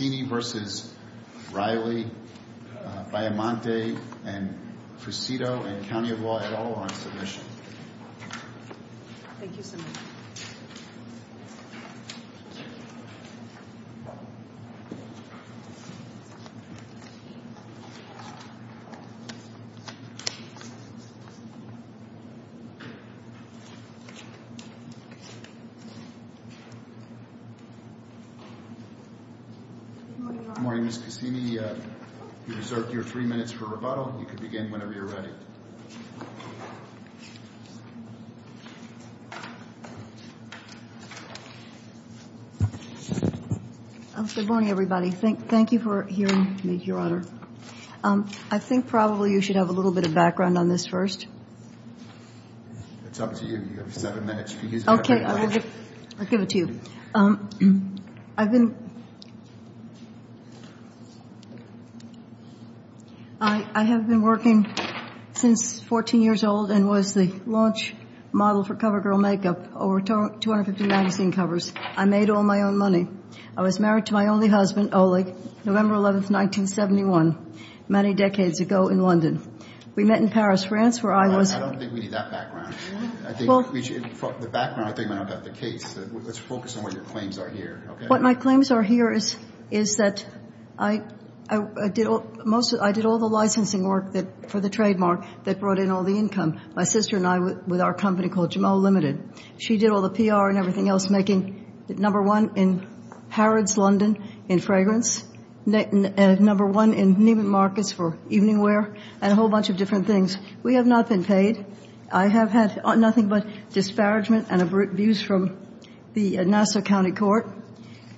Cassini v. Riley, Biomonte, Fusito, and County of Lauderdale are on submission. Good morning, everybody. Thank you for hearing me, Your Honor. I think probably you should have a little bit of background on this first. It's up to you. You have seven minutes. Okay, I'll give it to you. I have been working since 14 years old and was the launch model for CoverGirl Makeup over 250 magazine covers. I made all my own money. I was married to my only husband, Oleg, November 11, 1971, many decades ago in London. We met in Paris, France, where I was... I don't think we need that background. The background, I think, might not be the case. Let's focus on what your claims are here. What my claims are here is that I did all the licensing work for the trademark that brought in all the income. My sister and I, with our company called Jameau Limited, she did all the PR and everything else, making number one in Harrods, London, in fragrance, number one in Neiman Marcus for evening wear, and a whole bunch of different things. We have not been paid. I have had nothing but disparagement and abuse from the Nassau County Court.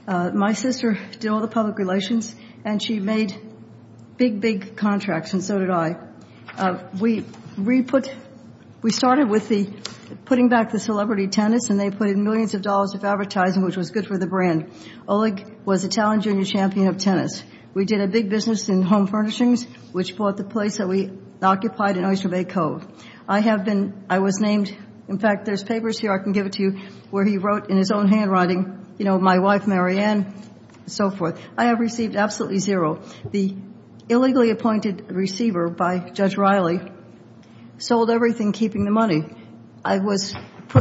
My sister did all the public relations, and she made big, big contracts, and so did I. We started with putting back the celebrity tenants, and they put in millions of dollars of advertising, which was good for the brand. Oleg was a talent junior champion of tennis. We did a big business in home furnishings, which bought the place that we occupied in Oyster Bay Cove. I have been... I was named... In fact, there's papers here, I can give it to you, where he wrote in his own handwriting, you know, my wife, Marianne, and so forth. I have received absolutely zero. The illegally appointed receiver by Judge Riley sold everything, keeping the money. I was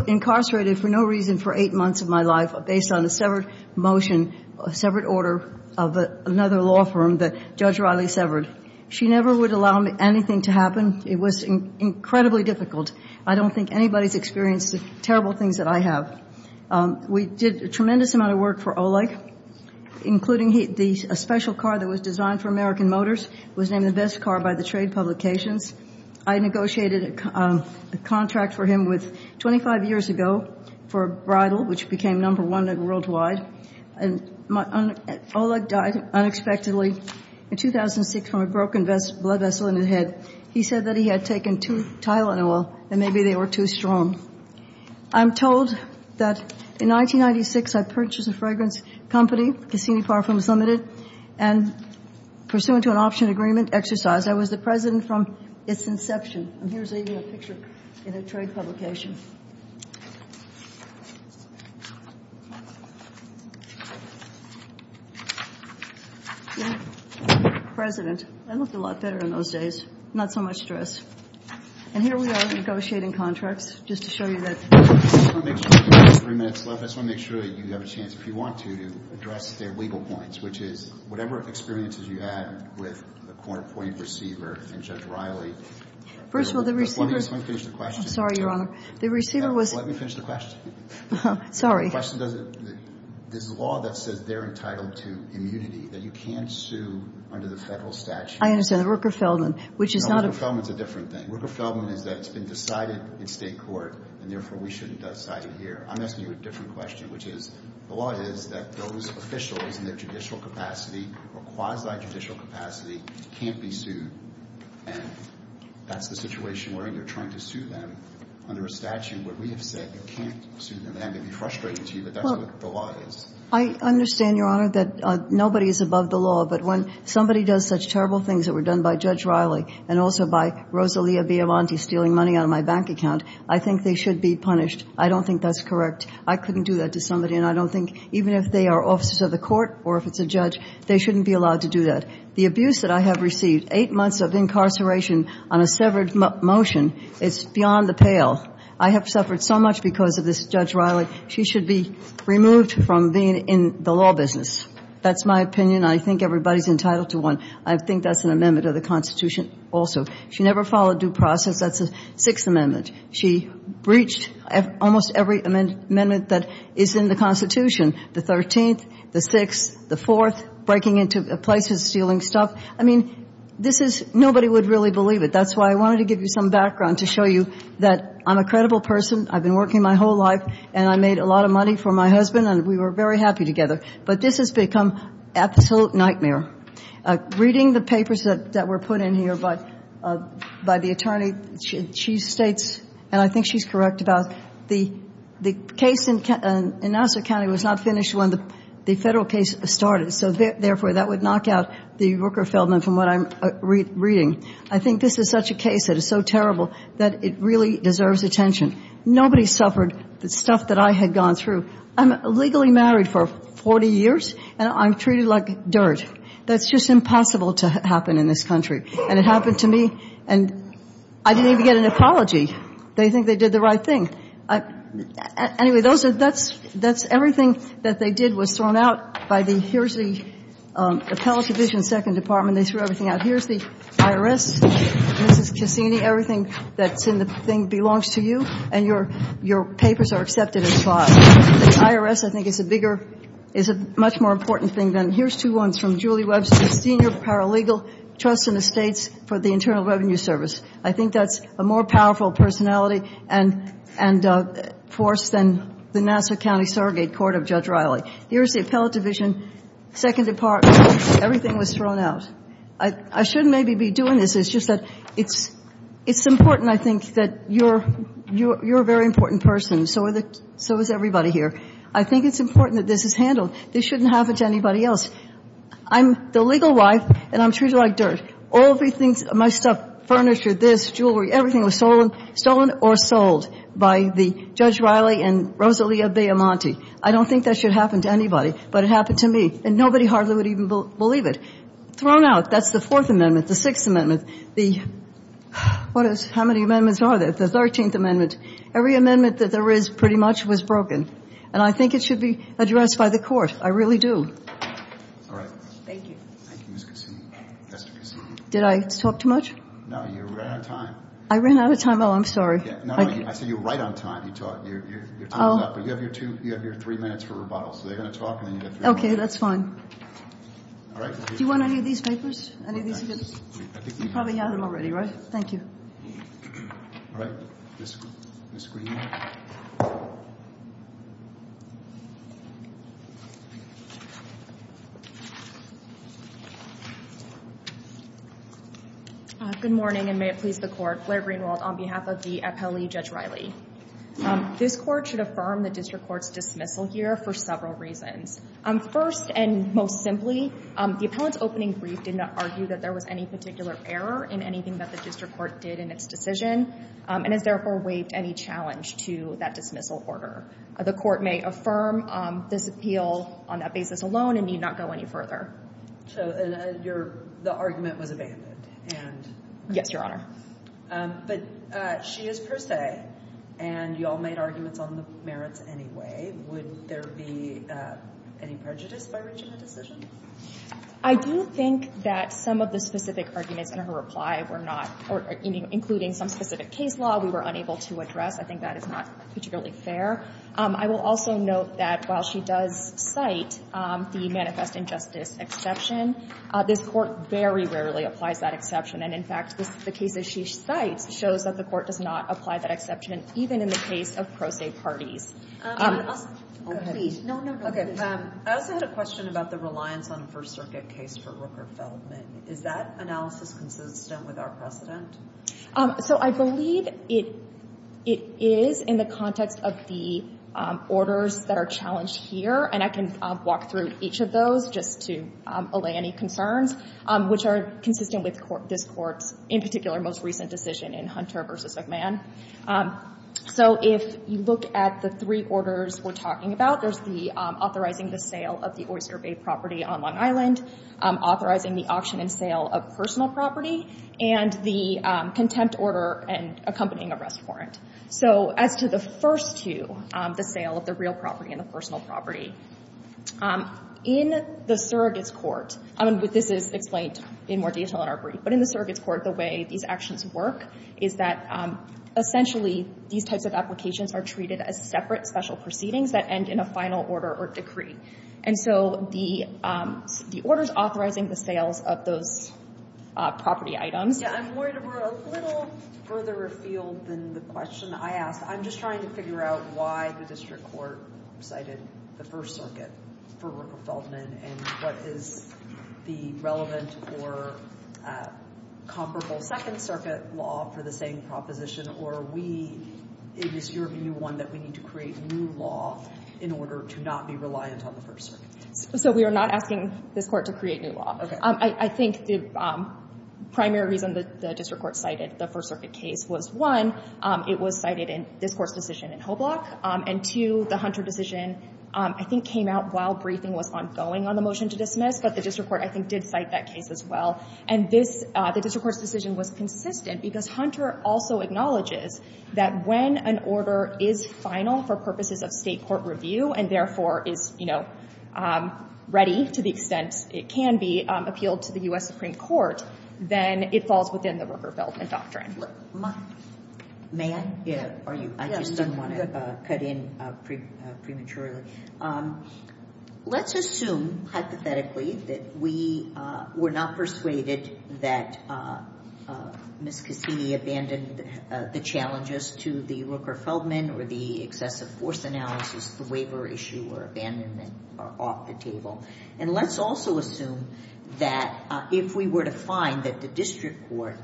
incarcerated for no reason for eight months of my life based on a severed motion, a severed order of another law firm that Judge Riley severed. She never would allow anything to happen. It was incredibly difficult. I don't think anybody's experienced the terrible things that I have. We did a tremendous amount of work for Oleg, including a special car that was designed for American Motors. It was named the best car by the trade publications. I negotiated a contract for him with... 25 years ago for a bridal, which became number one worldwide. And Oleg died unexpectedly in 2006 from a broken blood vessel in his head. He said that he had taken two Tylenol and maybe they were too strong. I'm told that in 1996 I purchased a fragrance company, Cassini Parfums Limited, and pursuant to an option agreement exercise, I was the president from its inception. And here's even a picture in a trade publication. President. I looked a lot better in those days. Not so much stress. And here we are negotiating contracts just to show you that... I just want to make sure you have a chance, if you want to, to address their legal points, which is whatever experiences you had with the corner point receiver and Judge Riley... First of all, the receiver... Let me finish the question. Sorry, Your Honor. The receiver was... Let me finish the question. Sorry. The question doesn't... There's a law that says they're entitled to immunity, that you can't sue under the federal statute. I understand. The Rooker-Feldman, which is not a... No, the Rooker-Feldman's a different thing. Rooker-Feldman is that it's been decided in state court, and therefore we shouldn't decide it here. I'm asking you a different question, which is the law is that those officials in their judicial capacity or quasi-judicial capacity can't be sued, and that's the situation where you're trying to sue them under a statute where we have said you can't sue them. And I may be frustrating to you, but that's what the law is. I understand, Your Honor, that nobody is above the law, but when somebody does such terrible things that were done by Judge Riley and also by Rosalia Biavanti stealing money out of my bank account, I think they should be punished. I don't think that's correct. I couldn't do that to somebody, and I don't think even if they are officers of the court or if it's a judge, they shouldn't be allowed to do that. The abuse that I have received, eight months of incarceration on a severed motion, is beyond the pale. I have suffered so much because of this Judge Riley. She should be removed from being in the law business. That's my opinion. I think everybody's entitled to one. I think that's an amendment of the Constitution also. She never followed due process. That's the Sixth Amendment. She breached almost every amendment that is in the Constitution, the 13th, the 6th, the 4th, breaking into places, stealing stuff. I mean, this is – nobody would really believe it. That's why I wanted to give you some background to show you that I'm a credible person. I've been working my whole life, and I made a lot of money for my husband, and we were very happy together. But this has become an absolute nightmare. Reading the papers that were put in here by the attorney, she states – and I think she's correct about the case in Nassau County was not finished when the federal case started. So, therefore, that would knock out the Rooker-Feldman from what I'm reading. I think this is such a case that is so terrible that it really deserves attention. Nobody suffered the stuff that I had gone through. I'm legally married for 40 years, and I'm treated like dirt. That's just impossible to happen in this country. And it happened to me, and I didn't even get an apology. They think they did the right thing. Anyway, that's everything that they did was thrown out by the – here's the Appellate Division, Second Department. They threw everything out. Here's the IRS, Mrs. Cassini, everything that's in the thing belongs to you, and your papers are accepted as files. The IRS, I think, is a bigger – is a much more important thing than – here's two ones from Julie Webster, Senior Paralegal, Trusts and Estates for the Internal Revenue Service. I think that's a more powerful personality and force than the Nassau County Surrogate Court of Judge Riley. Here's the Appellate Division, Second Department. Everything was thrown out. I shouldn't maybe be doing this. It's just that it's important, I think, that you're a very important person. So is everybody here. I think it's important that this is handled. This shouldn't happen to anybody else. I'm the legal wife, and I'm treated like dirt. All of these things, my stuff, furniture, this, jewelry, everything was stolen or sold by Judge Riley and Rosalia Beaumonti. I don't think that should happen to anybody, but it happened to me, and nobody hardly would even believe it. Thrown out. That's the Fourth Amendment, the Sixth Amendment. The – what is – how many amendments are there? The Thirteenth Amendment. Every amendment that there is pretty much was broken, and I think it should be addressed by the court. I really do. All right. Thank you. Thank you, Ms. Cassini. Did I talk too much? No, you ran out of time. I ran out of time? Oh, I'm sorry. No, no. I said you were right on time. Your time is up, but you have your three minutes for rebuttal. So they're going to talk, and then you have three minutes. Okay, that's fine. All right. Do you want any of these papers? You probably have them already, right? Thank you. All right. Ms. Greenwald. Good morning, and may it please the Court. Blair Greenwald on behalf of the appellee, Judge Riley. This Court should affirm the district court's dismissal here for several reasons. First and most simply, the appellant's opening brief did not argue that there was any particular error in anything that the district court did in its decision, and has therefore waived any challenge to that dismissal order. The Court may affirm this appeal on that basis alone and need not go any further. So the argument was abandoned? Yes, Your Honor. But she is per se, and you all made arguments on the merits anyway. Would there be any prejudice by reaching a decision? I do think that some of the specific arguments in her reply were not, including some specific case law, we were unable to address. I think that is not particularly fair. I will also note that while she does cite the manifest injustice exception, this Court very rarely applies that exception. And, in fact, the case that she cites shows that the Court does not apply that exception, even in the case of pro se parties. Go ahead. I also had a question about the reliance on a First Circuit case for Rooker-Feldman. Is that analysis consistent with our precedent? So I believe it is in the context of the orders that are challenged here, and I can walk through each of those just to allay any concerns, which are consistent with this Court's, in particular, most recent decision in Hunter v. McMahon. So if you look at the three orders we're talking about, there's authorizing the sale of the Oyster Bay property on Long Island, authorizing the auction and sale of personal property, and the contempt order and accompanying arrest warrant. So as to the first two, the sale of the real property and the personal property, in the surrogate's court, and this is explained in more detail in our brief, but in the surrogate's court, the way these actions work is that essentially these types of applications are treated as separate special proceedings that end in a final order or decree. And so the order's authorizing the sales of those property items. Yeah, I'm worried we're a little further afield than the question I asked. I'm just trying to figure out why the district court cited the First Circuit for Rooker-Feldman and what is the relevant or comparable Second Circuit law for the same proposition, or it was your new one that we need to create new law in order to not be reliant on the First Circuit? So we are not asking this Court to create new law. I think the primary reason the district court cited the First Circuit case was, one, it was cited in this Court's decision in Hoblock, and two, the Hunter decision, I think, came out while briefing was ongoing on the motion to dismiss, but the district court, I think, did cite that case as well. And the district court's decision was consistent because Hunter also acknowledges that when an order is final for purposes of state court review and, therefore, is ready to the extent it can be appealed to the U.S. Supreme Court, then it falls within the Rooker-Feldman doctrine. May I? Are you? I just didn't want to cut in prematurely. Let's assume, hypothetically, that we were not persuaded that Ms. Cassini abandoned the challenges to the Rooker-Feldman or the excessive force analysis, the waiver issue or abandonment are off the table. And let's also assume that if we were to find that the district court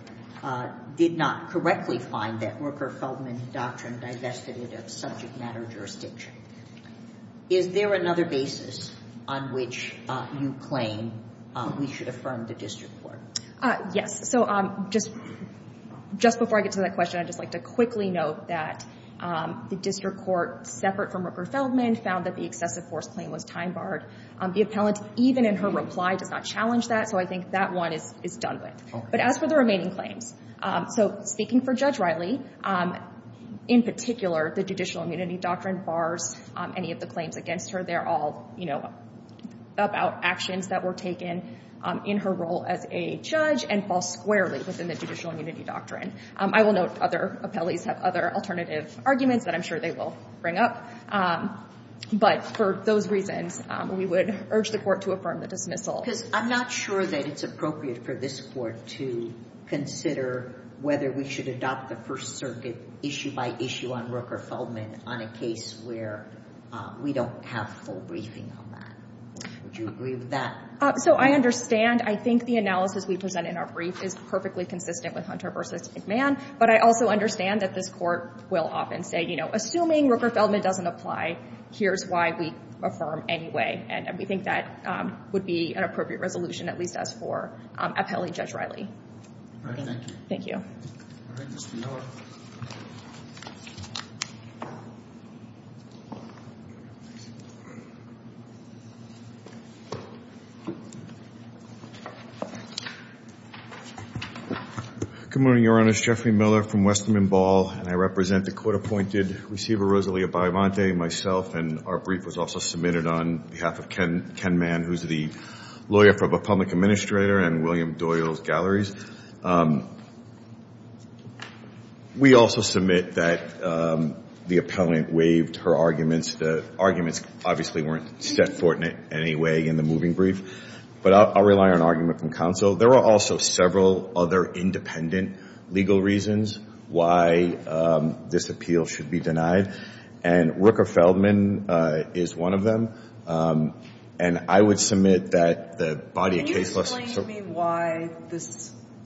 did not correctly find that Rooker-Feldman doctrine divested it of subject matter jurisdiction. Is there another basis on which you claim we should affirm the district court? Yes. So just before I get to that question, I'd just like to quickly note that the district court, separate from Rooker-Feldman, found that the excessive force claim was time-barred. The appellant, even in her reply, does not challenge that, so I think that one is done with. But as for the remaining claims, so speaking for Judge Riley, in particular, the judicial immunity doctrine bars any of the claims against her. They're all, you know, about actions that were taken in her role as a judge and fall squarely within the judicial immunity doctrine. I will note other appellees have other alternative arguments that I'm sure they will bring up. But for those reasons, we would urge the court to affirm the dismissal. Because I'm not sure that it's appropriate for this court to consider whether we should adopt the First Circuit issue by issue on Rooker-Feldman on a case where we don't have full briefing on that. Would you agree with that? So I understand. I think the analysis we present in our brief is perfectly consistent with Hunter v. McMahon, but I also understand that this court will often say, you know, assuming Rooker-Feldman doesn't apply, here's why we affirm anyway. And we think that would be an appropriate resolution, at least as for appellee Judge Riley. All right. Thank you. Thank you. All right. Mr. Miller. Good morning, Your Honor. It's Jeffrey Miller from Westman Ball, and I represent the court-appointed receiver, myself, and our brief was also submitted on behalf of Ken Mann, who's the lawyer for the public administrator and William Doyle's galleries. We also submit that the appellant waived her arguments. The arguments obviously weren't set forth in any way in the moving brief, but I'll rely on argument from counsel. There are also several other independent legal reasons why this appeal should be denied, and Rooker-Feldman is one of them, and I would submit that the body of case law. Can you explain to me why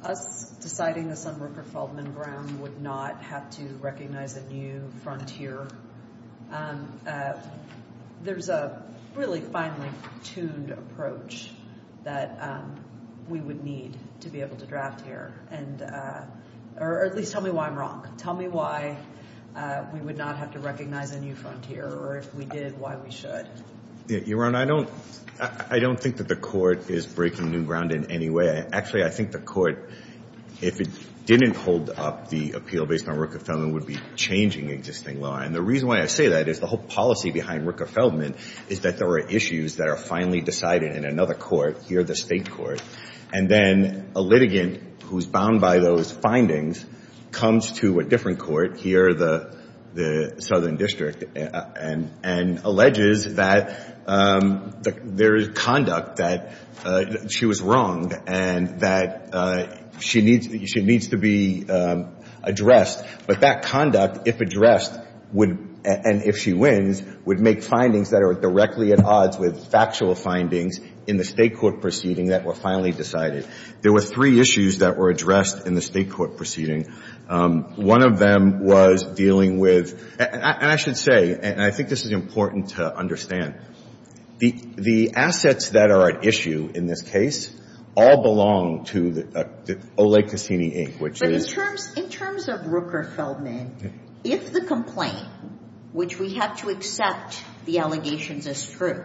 us deciding this on Rooker-Feldman ground would not have to recognize a new frontier? There's a really finely tuned approach that we would need to be able to draft here, or at least tell me why I'm wrong. Tell me why we would not have to recognize a new frontier, or if we did, why we should. Your Honor, I don't think that the court is breaking new ground in any way. Actually, I think the court, if it didn't hold up the appeal based on Rooker-Feldman, would be changing existing law, and the reason why I say that is the whole policy behind Rooker-Feldman is that there are issues that are finally decided in another court, here the state court, and then a litigant who's bound by those findings comes to a different court, here the southern district, and alleges that there is conduct that she was wronged and that she needs to be addressed, but that conduct, if addressed, and if she wins, would make findings that are directly at odds with factual findings in the state court proceeding that were finally decided. There were three issues that were addressed in the state court proceeding. One of them was dealing with, and I should say, and I think this is important to understand, the assets that are at issue in this case all belong to the Ole Cassini, Inc., which it is. But in terms of Rooker-Feldman, if the complaint, which we have to accept the allegations as true,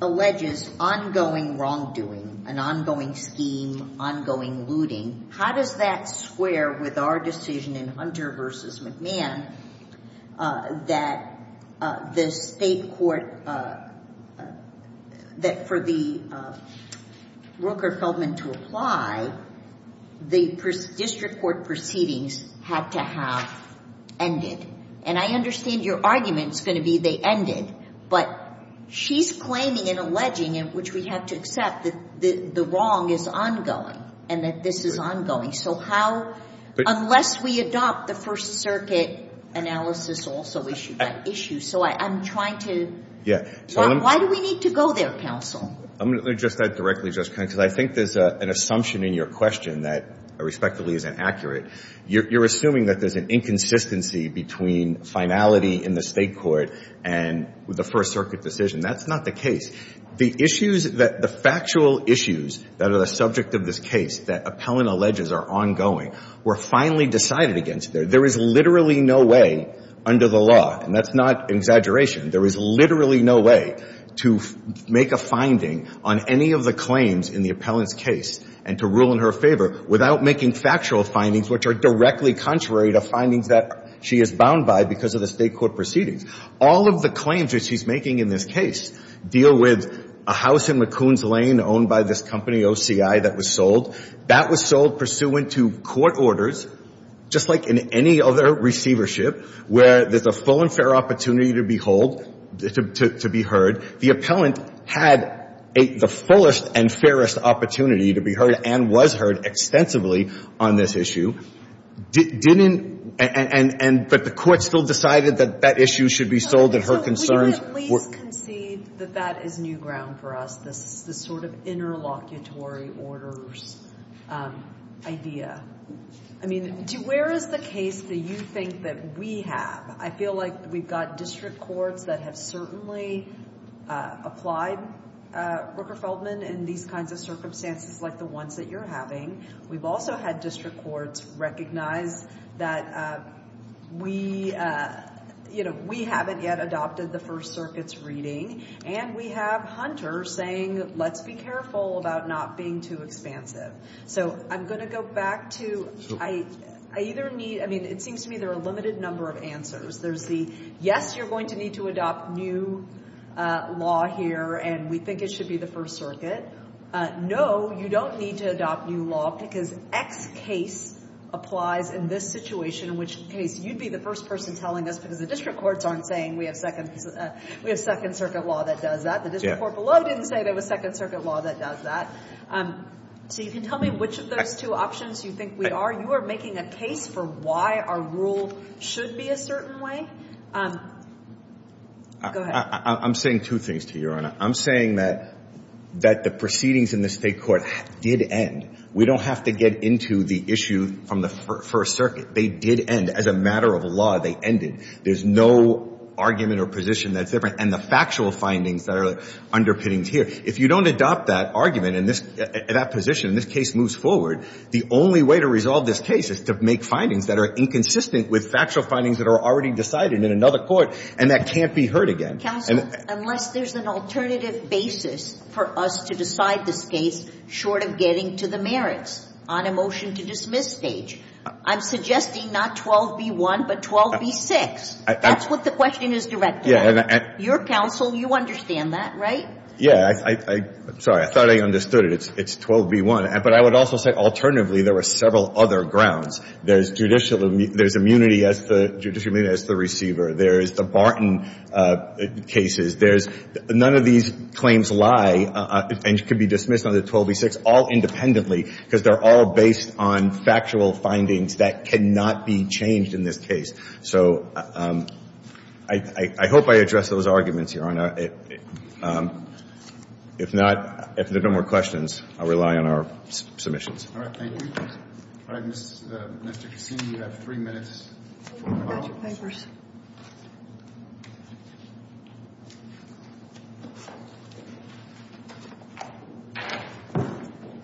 alleges ongoing wrongdoing, an ongoing scheme, ongoing looting, how does that square with our decision in Hunter v. McMahon that the state court, that for the Rooker-Feldman to apply, the district court proceedings had to have ended? And I understand your argument is going to be they ended, but she's claiming and alleging, which we have to accept, that the wrong is ongoing and that this is ongoing. So how unless we adopt the First Circuit analysis also issued that issue. So I'm trying to why do we need to go there, counsel? I'm going to address that directly, Justice Kagan, because I think there's an assumption in your question that respectively is inaccurate. You're assuming that there's an inconsistency between finality in the state court and the First Circuit decision. That's not the case. The factual issues that are the subject of this case that Appellant alleges are ongoing were finally decided against there. There is literally no way under the law, and that's not an exaggeration, there is literally no way to make a finding on any of the claims in the Appellant's case and to rule in her favor without making factual findings, which are directly contrary to findings that she is bound by because of the state court proceedings. All of the claims that she's making in this case deal with a house in McCoon's Lane owned by this company, OCI, that was sold. That was sold pursuant to court orders, just like in any other receivership, where there's a full and fair opportunity to behold, to be heard. The Appellant had the fullest and fairest opportunity to be heard and was heard extensively on this issue. But the court still decided that that issue should be sold and her concerns were— Would you at least concede that that is new ground for us, this sort of interlocutory orders idea? I mean, where is the case that you think that we have? I feel like we've got district courts that have certainly applied, Rooker-Feldman, in these kinds of circumstances like the ones that you're having. We've also had district courts recognize that we haven't yet adopted the First Circuit's reading, and we have Hunter saying, let's be careful about not being too expansive. So I'm going to go back to—I either need— I mean, it seems to me there are a limited number of answers. There's the, yes, you're going to need to adopt new law here, and we think it should be the First Circuit. No, you don't need to adopt new law because X case applies in this situation, in which case you'd be the first person telling us, because the district courts aren't saying we have Second Circuit law that does that. The district court below didn't say there was Second Circuit law that does that. So you can tell me which of those two options you think we are. You are making a case for why our rule should be a certain way. Go ahead. I'm saying two things to you, Your Honor. I'm saying that the proceedings in this State court did end. We don't have to get into the issue from the First Circuit. They did end. As a matter of law, they ended. There's no argument or position that's different. And the factual findings that are underpinning here, if you don't adopt that argument and that position and this case moves forward, the only way to resolve this case is to make findings that are inconsistent with factual findings that are already decided in another court, and that can't be heard again. Counsel, unless there's an alternative basis for us to decide this case short of getting to the merits on a motion to dismiss stage, I'm suggesting not 12b-1, but 12b-6. That's what the question is directed at. Yeah. Your counsel, you understand that, right? Yeah. I'm sorry. I thought I understood it. It's 12b-1. But I would also say, alternatively, there were several other grounds. There's judicial immunity as the receiver. There's the Barton cases. There's none of these claims lie and can be dismissed under 12b-6 all independently because they're all based on factual findings that cannot be changed in this case. So I hope I addressed those arguments here. If not, if there are no more questions, I'll rely on our submissions. All right. Thank you. All right. Mr. Cassini, you have three minutes. I've got your papers.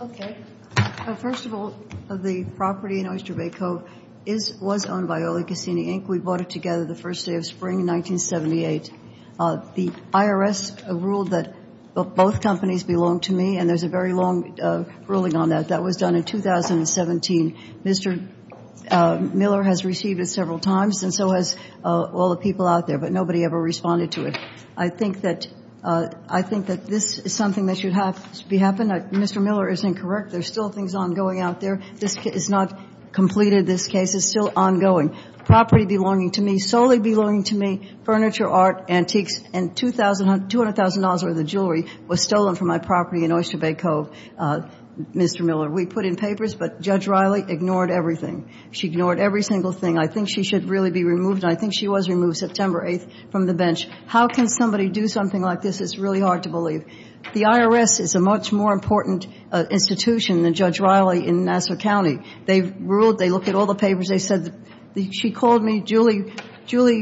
Okay. First of all, the property in Oyster Bay Cove was owned by Oli Cassini, Inc. We bought it together the first day of spring 1978. The IRS ruled that both companies belong to me, and there's a very long ruling on that. That was done in 2017. Mr. Miller has received it several times, and so has all the people out there, but nobody ever responded to it. I think that this is something that should happen. Mr. Miller is incorrect. There's still things ongoing out there. This case is not completed. This case is still ongoing. Property belonging to me, solely belonging to me, furniture, art, antiques, and $200,000 worth of jewelry was stolen from my property in Oyster Bay Cove, Mr. Miller. We put in papers, but Judge Riley ignored everything. She ignored every single thing. I think she should really be removed, and I think she was removed September 8th from the bench. How can somebody do something like this? It's really hard to believe. The IRS is a much more important institution than Judge Riley in Nassau County. They ruled. They looked at all the papers. They said she called me. Julie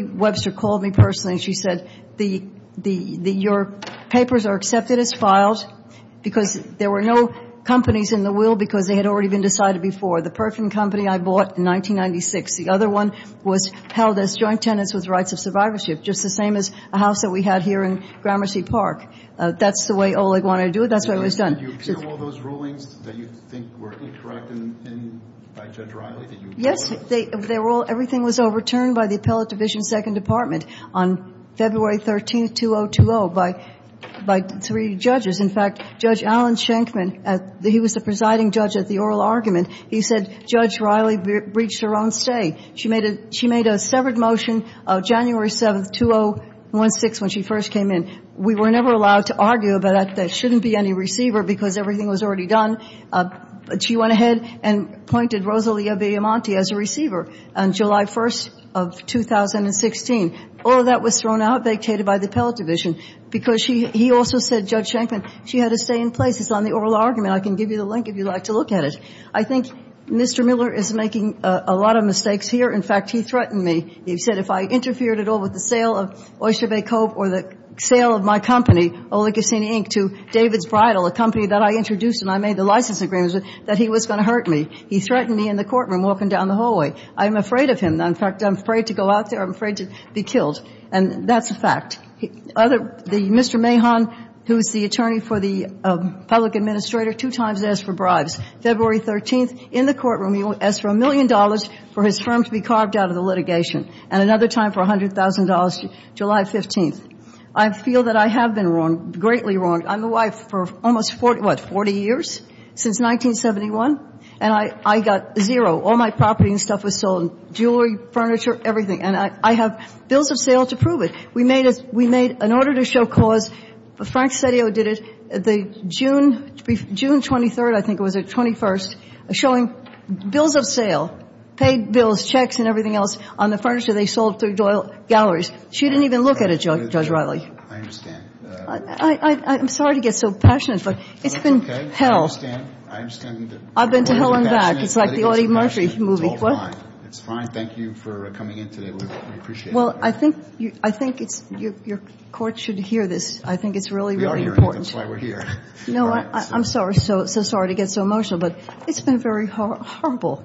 Webster called me personally, and she said, Your papers are accepted as files because there were no companies in the will because they had already been decided before. The Perkin Company I bought in 1996. The other one was held as joint tenants with rights of survivorship, just the same as a house that we had here in Gramercy Park. That's the way Oleg wanted to do it. That's the way it was done. Did you appeal all those rulings that you think were incorrect by Judge Riley? Yes. Everything was overturned by the Appellate Division, Second Department, on February 13th, 2020, by three judges. In fact, Judge Alan Shenkman, he was the presiding judge at the oral argument. He said Judge Riley breached her own stay. She made a severed motion January 7th, 2016, when she first came in. We were never allowed to argue about that there shouldn't be any receiver because everything was already done. She went ahead and appointed Rosalia Villamonte as a receiver on July 1st of 2016. All of that was thrown out, vacated by the Appellate Division, because he also said, Judge Shenkman, she had a stay in place. It's on the oral argument. I can give you the link if you'd like to look at it. I think Mr. Miller is making a lot of mistakes here. In fact, he threatened me. He said if I interfered at all with the sale of Oyster Bay Cove or the sale of my company, Oleg Cassini, Inc., to David's Bridal, a company that I introduced and I made the license agreements with, that he was going to hurt me. He threatened me in the courtroom walking down the hallway. I'm afraid of him. In fact, I'm afraid to go out there. I'm afraid to be killed. And that's a fact. Mr. Mahon, who is the attorney for the public administrator, two times asked for bribes. February 13th, in the courtroom, he asked for a million dollars for his firm to be carved out of the litigation and another time for $100,000, July 15th. I feel that I have been wrong, greatly wrong. I'm the wife for almost, what, 40 years, since 1971? And I got zero. All my property and stuff was sold, jewelry, furniture, everything. And I have bills of sale to prove it. We made an order to show cause. Frank Cettio did it. June 23rd, I think it was, or 21st, showing bills of sale, paid bills, checks and everything else on the furniture they sold through Doyle Galleries. She didn't even look at it, Judge Riley. I understand. I'm sorry to get so passionate, but it's been hell. I understand. I've been to hell and back. It's like the Audie Murphy movie. It's all fine. It's fine. Thank you for coming in today. We appreciate it. Well, I think your court should hear this. I think it's really, really important. We are hearing it. That's why we're here. No, I'm so sorry to get so emotional, but it's been very horrible.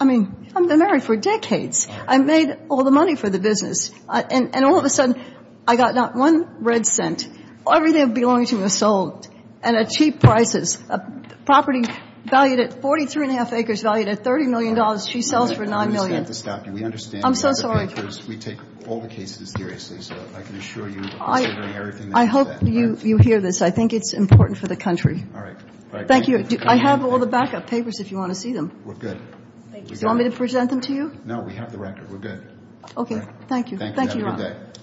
I mean, I've been married for decades. I made all the money for the business. And all of a sudden, I got not one red cent. Everything that belonged to me was sold at cheap prices. A property valued at 43 and a half acres, valued at $30 million, she sells for $9 million. We understand. I'm so sorry. We take all the cases seriously, so I can assure you. I hope you hear this. I think it's important for the country. All right. Thank you. I have all the backup papers if you want to see them. We're good. Do you want me to present them to you? No, we have the record. We're good. Okay. Thank you. Thank you. Have a good day.